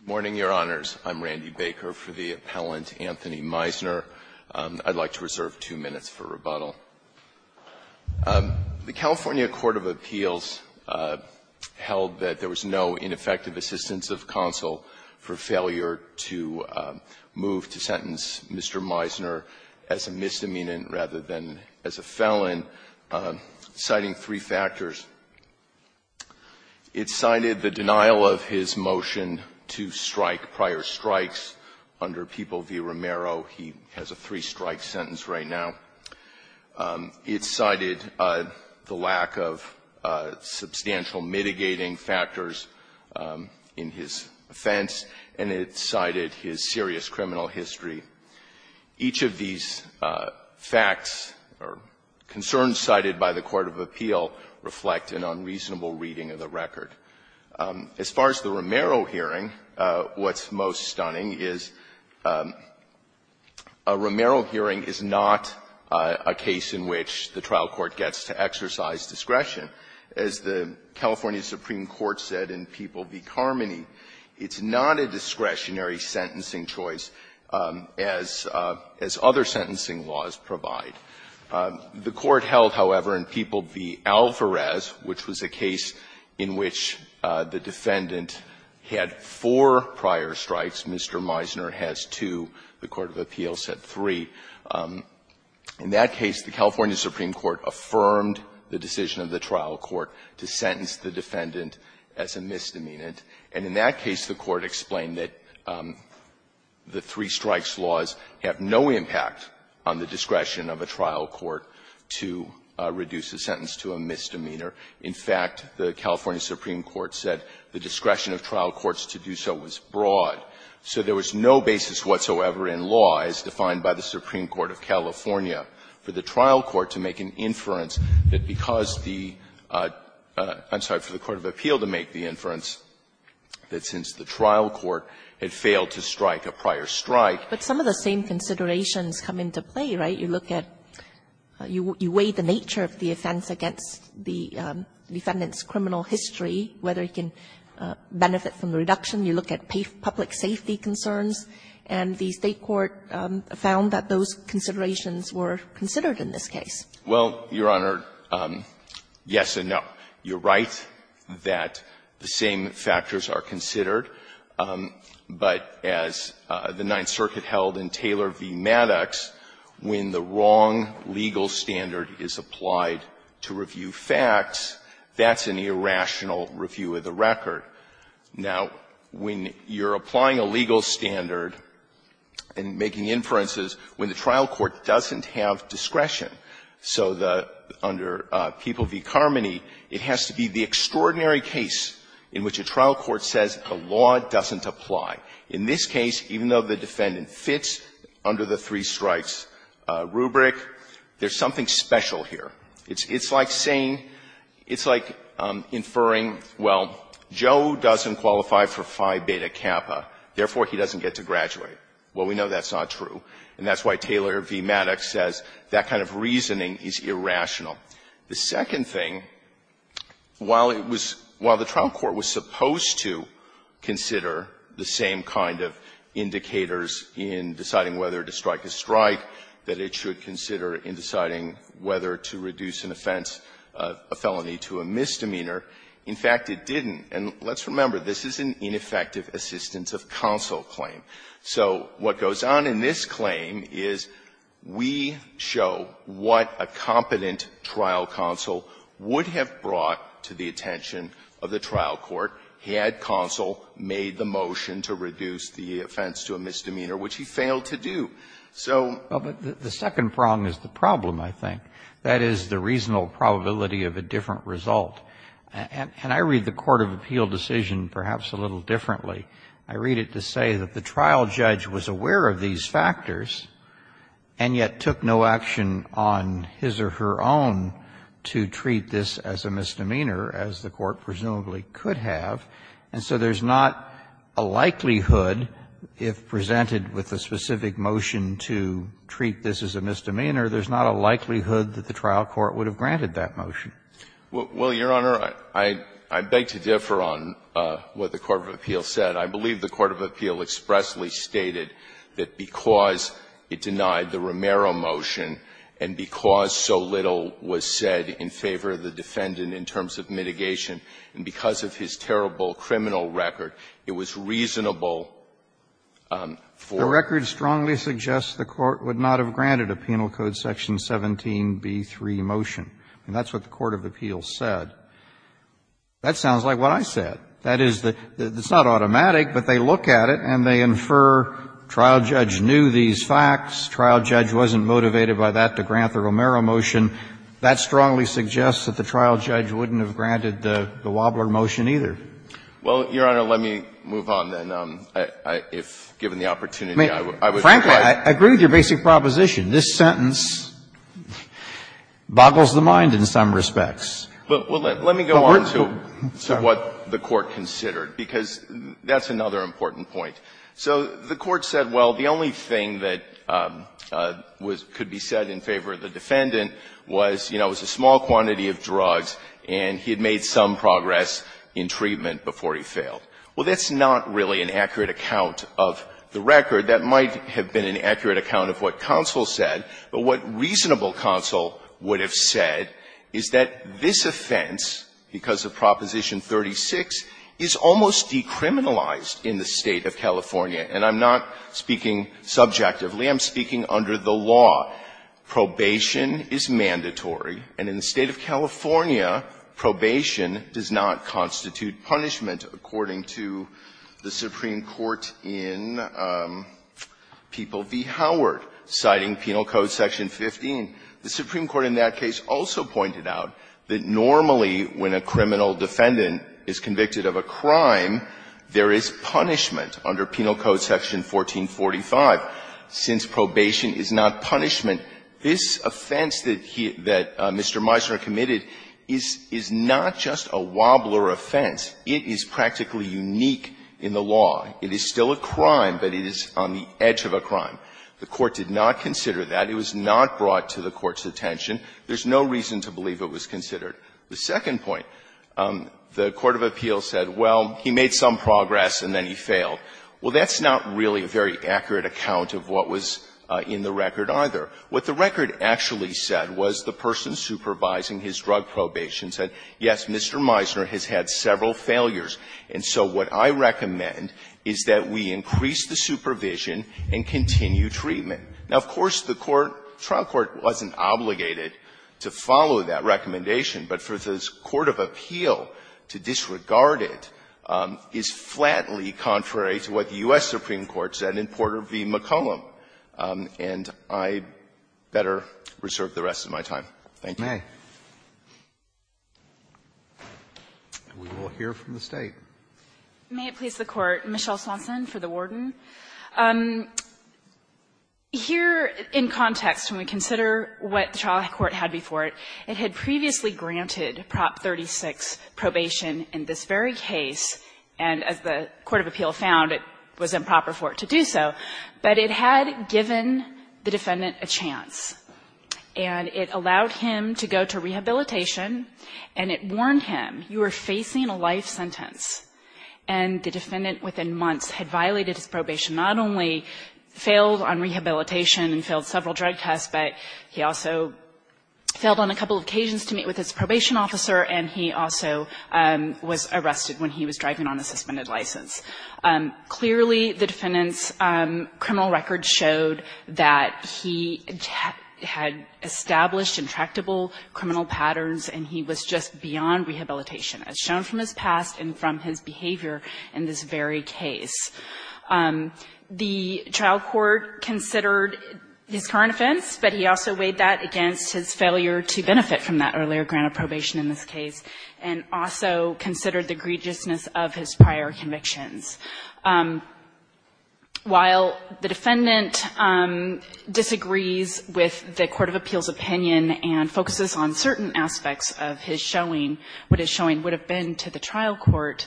Good morning, Your Honors. I'm Randy Baker for the appellant, Anthony Mizner. I'd like to reserve two minutes for rebuttal. The California Court of Appeals held that there was no ineffective assistance of counsel for failure to move to sentence Mr. Mizner as a misdemeanant rather than as a felon, citing three factors. It cited the denial of his motion to strike prior strikes under People v. Romero. He has a three-strike sentence right now. It cited the lack of substantial mitigating factors in his offense, and it cited his serious criminal history. Each of these facts or concerns cited by the court of appeal reflect an unreasonable reading of the record. As far as the Romero hearing, what's most stunning is a Romero hearing is not a case in which the trial court gets to exercise discretion. As the California Supreme Court said in People v. Carmody, it's not a discretionary sentencing choice as other sentencing laws provide. The court held, however, in People v. Alvarez, which was a case in which the defendant had four prior strikes, Mr. Mizner has two, the court of appeals had three. In that case, the California Supreme Court affirmed the decision of the trial court to sentence the defendant as a misdemeanant, and in that case, the court explained that the trial court had the three-strikes laws have no impact on the discretion of a trial court to reduce a sentence to a misdemeanor. In fact, the California Supreme Court said the discretion of trial courts to do so was broad. So there was no basis whatsoever in law as defined by the Supreme Court of California for the trial court to make an inference that because the – I'm sorry, for the court of appeal to make the inference that since the trial court had failed to strike a prior strike. Kagan. But some of the same considerations come into play, right? You look at – you weigh the nature of the offense against the defendant's criminal history, whether it can benefit from the reduction. You look at public safety concerns, and the State court found that those considerations were considered in this case. Well, Your Honor, yes and no. You're right that the same factors are considered, but as the Ninth Circuit held in Taylor v. Maddox, when the wrong legal standard is applied to review facts, that's an irrational review of the record. Now, when you're applying a legal standard and making inferences when the trial court doesn't have discretion, so the – under People v. Carmody, it has to be the extraordinary case in which a trial court says a law doesn't apply. In this case, even though the defendant fits under the three strikes rubric, there's something special here. It's like saying – it's like inferring, well, Joe doesn't qualify for Phi Beta Kappa, therefore, he doesn't get to graduate. Well, we know that's not true. And that's why Taylor v. Maddox says that kind of reasoning is irrational. The second thing, while it was – while the trial court was supposed to consider the same kind of indicators in deciding whether to strike a strike that it should consider in deciding whether to reduce an offense, a felony to a misdemeanor, in fact, it didn't. And let's remember, this is an ineffective assistance of counsel claim. So what goes on in this claim is we show what a competent trial counsel would have brought to the attention of the trial court had counsel made the motion to reduce the offense to a misdemeanor, which he failed to do. So – Well, but the second prong is the problem, I think. That is, the reasonable probability of a different result. And I read the court of appeal decision perhaps a little differently. I read it to say that the trial judge was aware of these factors, and yet took no action on his or her own to treat this as a misdemeanor, as the court presumably could have. And so there's not a likelihood, if presented with a specific motion to treat this as a misdemeanor, there's not a likelihood that the trial court would have granted that motion. Well, Your Honor, I beg to differ on what the court of appeal said. I believe the court of appeal expressly stated that because it denied the Romero motion, and because so little was said in favor of the defendant in terms of mitigation, and because of his terrible criminal record, it was reasonable for the court to do so. And that's what the court of appeal said when it granted a Penal Code section 17b3 motion. And that's what the court of appeal said. That sounds like what I said. That is, it's not automatic, but they look at it and they infer trial judge knew these facts, trial judge wasn't motivated by that to grant the Romero motion. That strongly suggests that the trial judge wouldn't have granted the Wobbler motion either. Well, Your Honor, let me move on, then, if given the opportunity, I would like to add. Frankly, I agree with your basic proposition. This sentence boggles the mind in some respects. Well, let me go on to what the court considered, because that's another important point. So the court said, well, the only thing that could be said in favor of the defendant was, you know, it was a small quantity of drugs and he had made some progress in treatment before he failed. Well, that's not really an accurate account of the record. That might have been an accurate account of what counsel said, but what reasonable counsel would have said is that this offense, because of Proposition 36, is almost decriminalized in the State of California. And I'm not speaking subjectively, I'm speaking under the law. Probation is mandatory, and in the State of California, probation does not constitute punishment, according to the Supreme Court in People v. Howard, citing Penal Code Section 15. The Supreme Court in that case also pointed out that normally when a criminal defendant is convicted of a crime, there is punishment under Penal Code Section 1445. Since probation is not punishment, this offense that he – that Mr. Meisner committed is not just a wobbler offense. It is practically unique in the law. It is still a crime, but it is on the edge of a crime. The court did not consider that. It was not brought to the Court's attention. There's no reason to believe it was considered. The second point, the court of appeals said, well, he made some progress and then he failed. Well, that's not really a very accurate account of what was in the record, either. What the record actually said was the person supervising his drug probation said, yes, Mr. Meisner has had several failures, and so what I recommend is that we increase the supervision and continue treatment. Now, of course, the court – the trial court wasn't obligated to follow that recommendation, but for the court of appeal to disregard it is flatly contrary to what the U.S. Supreme Court said in Porter v. McCollum, and I'd better reserve the rest of my time. Thank you. Roberts. And we will hear from the State. May it please the Court. Michelle Swanson for the Warden. Here in context, when we consider what the trial court had before it, it had previously granted Prop. 36 probation in this very case, and as the court of appeal found, it was improper for it to do so, but it had given the defendant a chance, and it allowed him to go to rehabilitation, and it warned him, you are facing a life sentence, and the defendant within months had violated his probation, not only failed on rehabilitation and failed several drug tests, but he also failed on a couple of occasions to meet with his probation officer, and he also was arrested when he was driving on a suspended license. Clearly, the defendant's criminal record showed that he had established intractable criminal patterns, and he was just beyond rehabilitation, as shown from his past and from his behavior in this very case. The trial court considered his current offense, but he also weighed that against his earlier grant of probation in this case, and also considered the egregiousness of his prior convictions. While the defendant disagrees with the court of appeals' opinion and focuses on certain aspects of his showing, what his showing would have been to the trial court,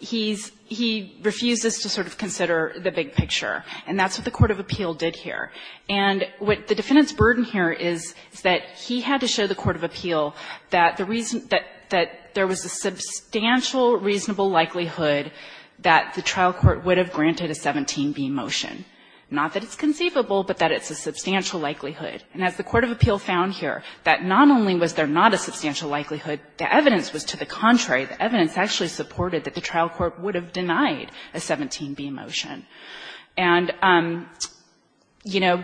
he's he refuses to sort of consider the big picture, and that's what the court of appeal did here. And what the defendant's burden here is, is that he had to show the court of appeal that the reason that there was a substantial reasonable likelihood that the trial court would have granted a 17B motion, not that it's conceivable, but that it's a substantial likelihood. And as the court of appeal found here, that not only was there not a substantial likelihood, the evidence was to the contrary. The evidence actually supported that the trial court would have denied a 17B motion. And, you know,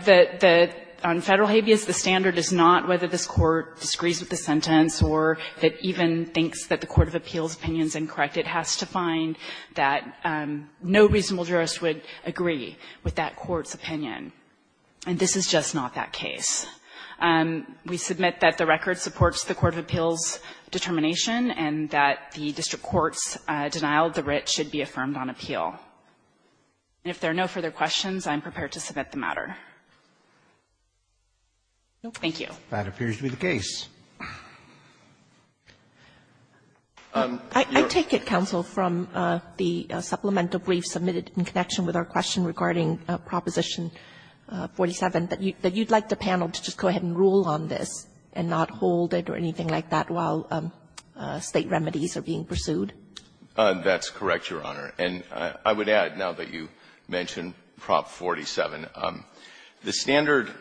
on Federal habeas, the standard is not whether this Court disagrees with the sentence or that even thinks that the court of appeals' opinion is incorrect. It has to find that no reasonable jurist would agree with that court's opinion. And this is just not that case. We submit that the record supports the court of appeals' determination and that the district court's denial of the writ should be affirmed on appeal. And if there are no further questions, I'm prepared to submit the matter. Thank you. Roberts That appears to be the case. Kagan I take it, counsel, from the supplemental brief submitted in connection with our question regarding Proposition 47, that you'd like the panel to just go ahead and rule on this and not hold it or anything like that while State remedies are being pursued? Goldstein That's correct, Your Honor. And I would add, now that you mention Prop 47, the standard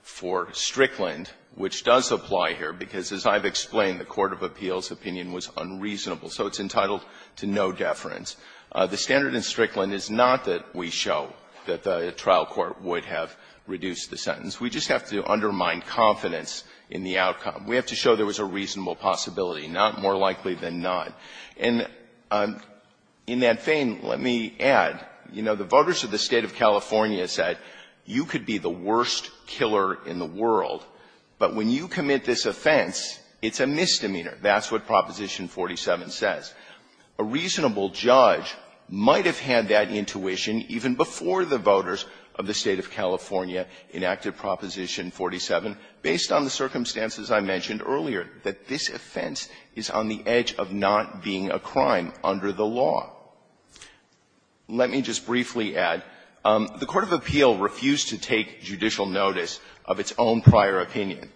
for Strickland, which does apply here, because as I've explained, the court of appeals' opinion was unreasonable, so it's entitled to no deference. The standard in Strickland is not that we show that the trial court would have reduced the sentence. We just have to undermine confidence in the outcome. We have to show there was a reasonable possibility, not more likely than not. And in that vein, let me add, you know, the voters of the State of California said, you could be the worst killer in the world, but when you commit this offense, it's a misdemeanor. That's what Proposition 47 says. A reasonable judge might have had that intuition even before the voters of the State of California enacted Proposition 47, based on the circumstances I mentioned earlier, that this offense is on the edge of not being a crime under the law. Let me just briefly add, the court of appeal refused to take judicial notice of its own prior opinion.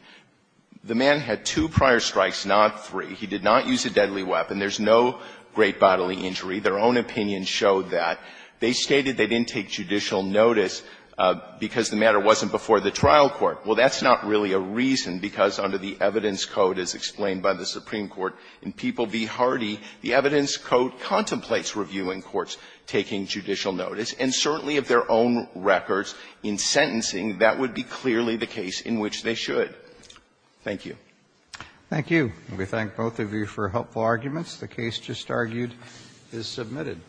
The man had two prior strikes, not three. He did not use a deadly weapon. There's no great bodily injury. Their own opinion showed that. They stated they didn't take judicial notice because the matter wasn't before the trial court. Well, that's not really a reason, because under the Evidence Code, as explained by the Supreme Court, in People v. Hardy, the Evidence Code contemplates reviewing courts taking judicial notice. And certainly, if their own records in sentencing, that would be clearly the case in which they should. Thank you. Robertson, Thank you. And we thank both of you for helpful arguments. The case just argued is submitted.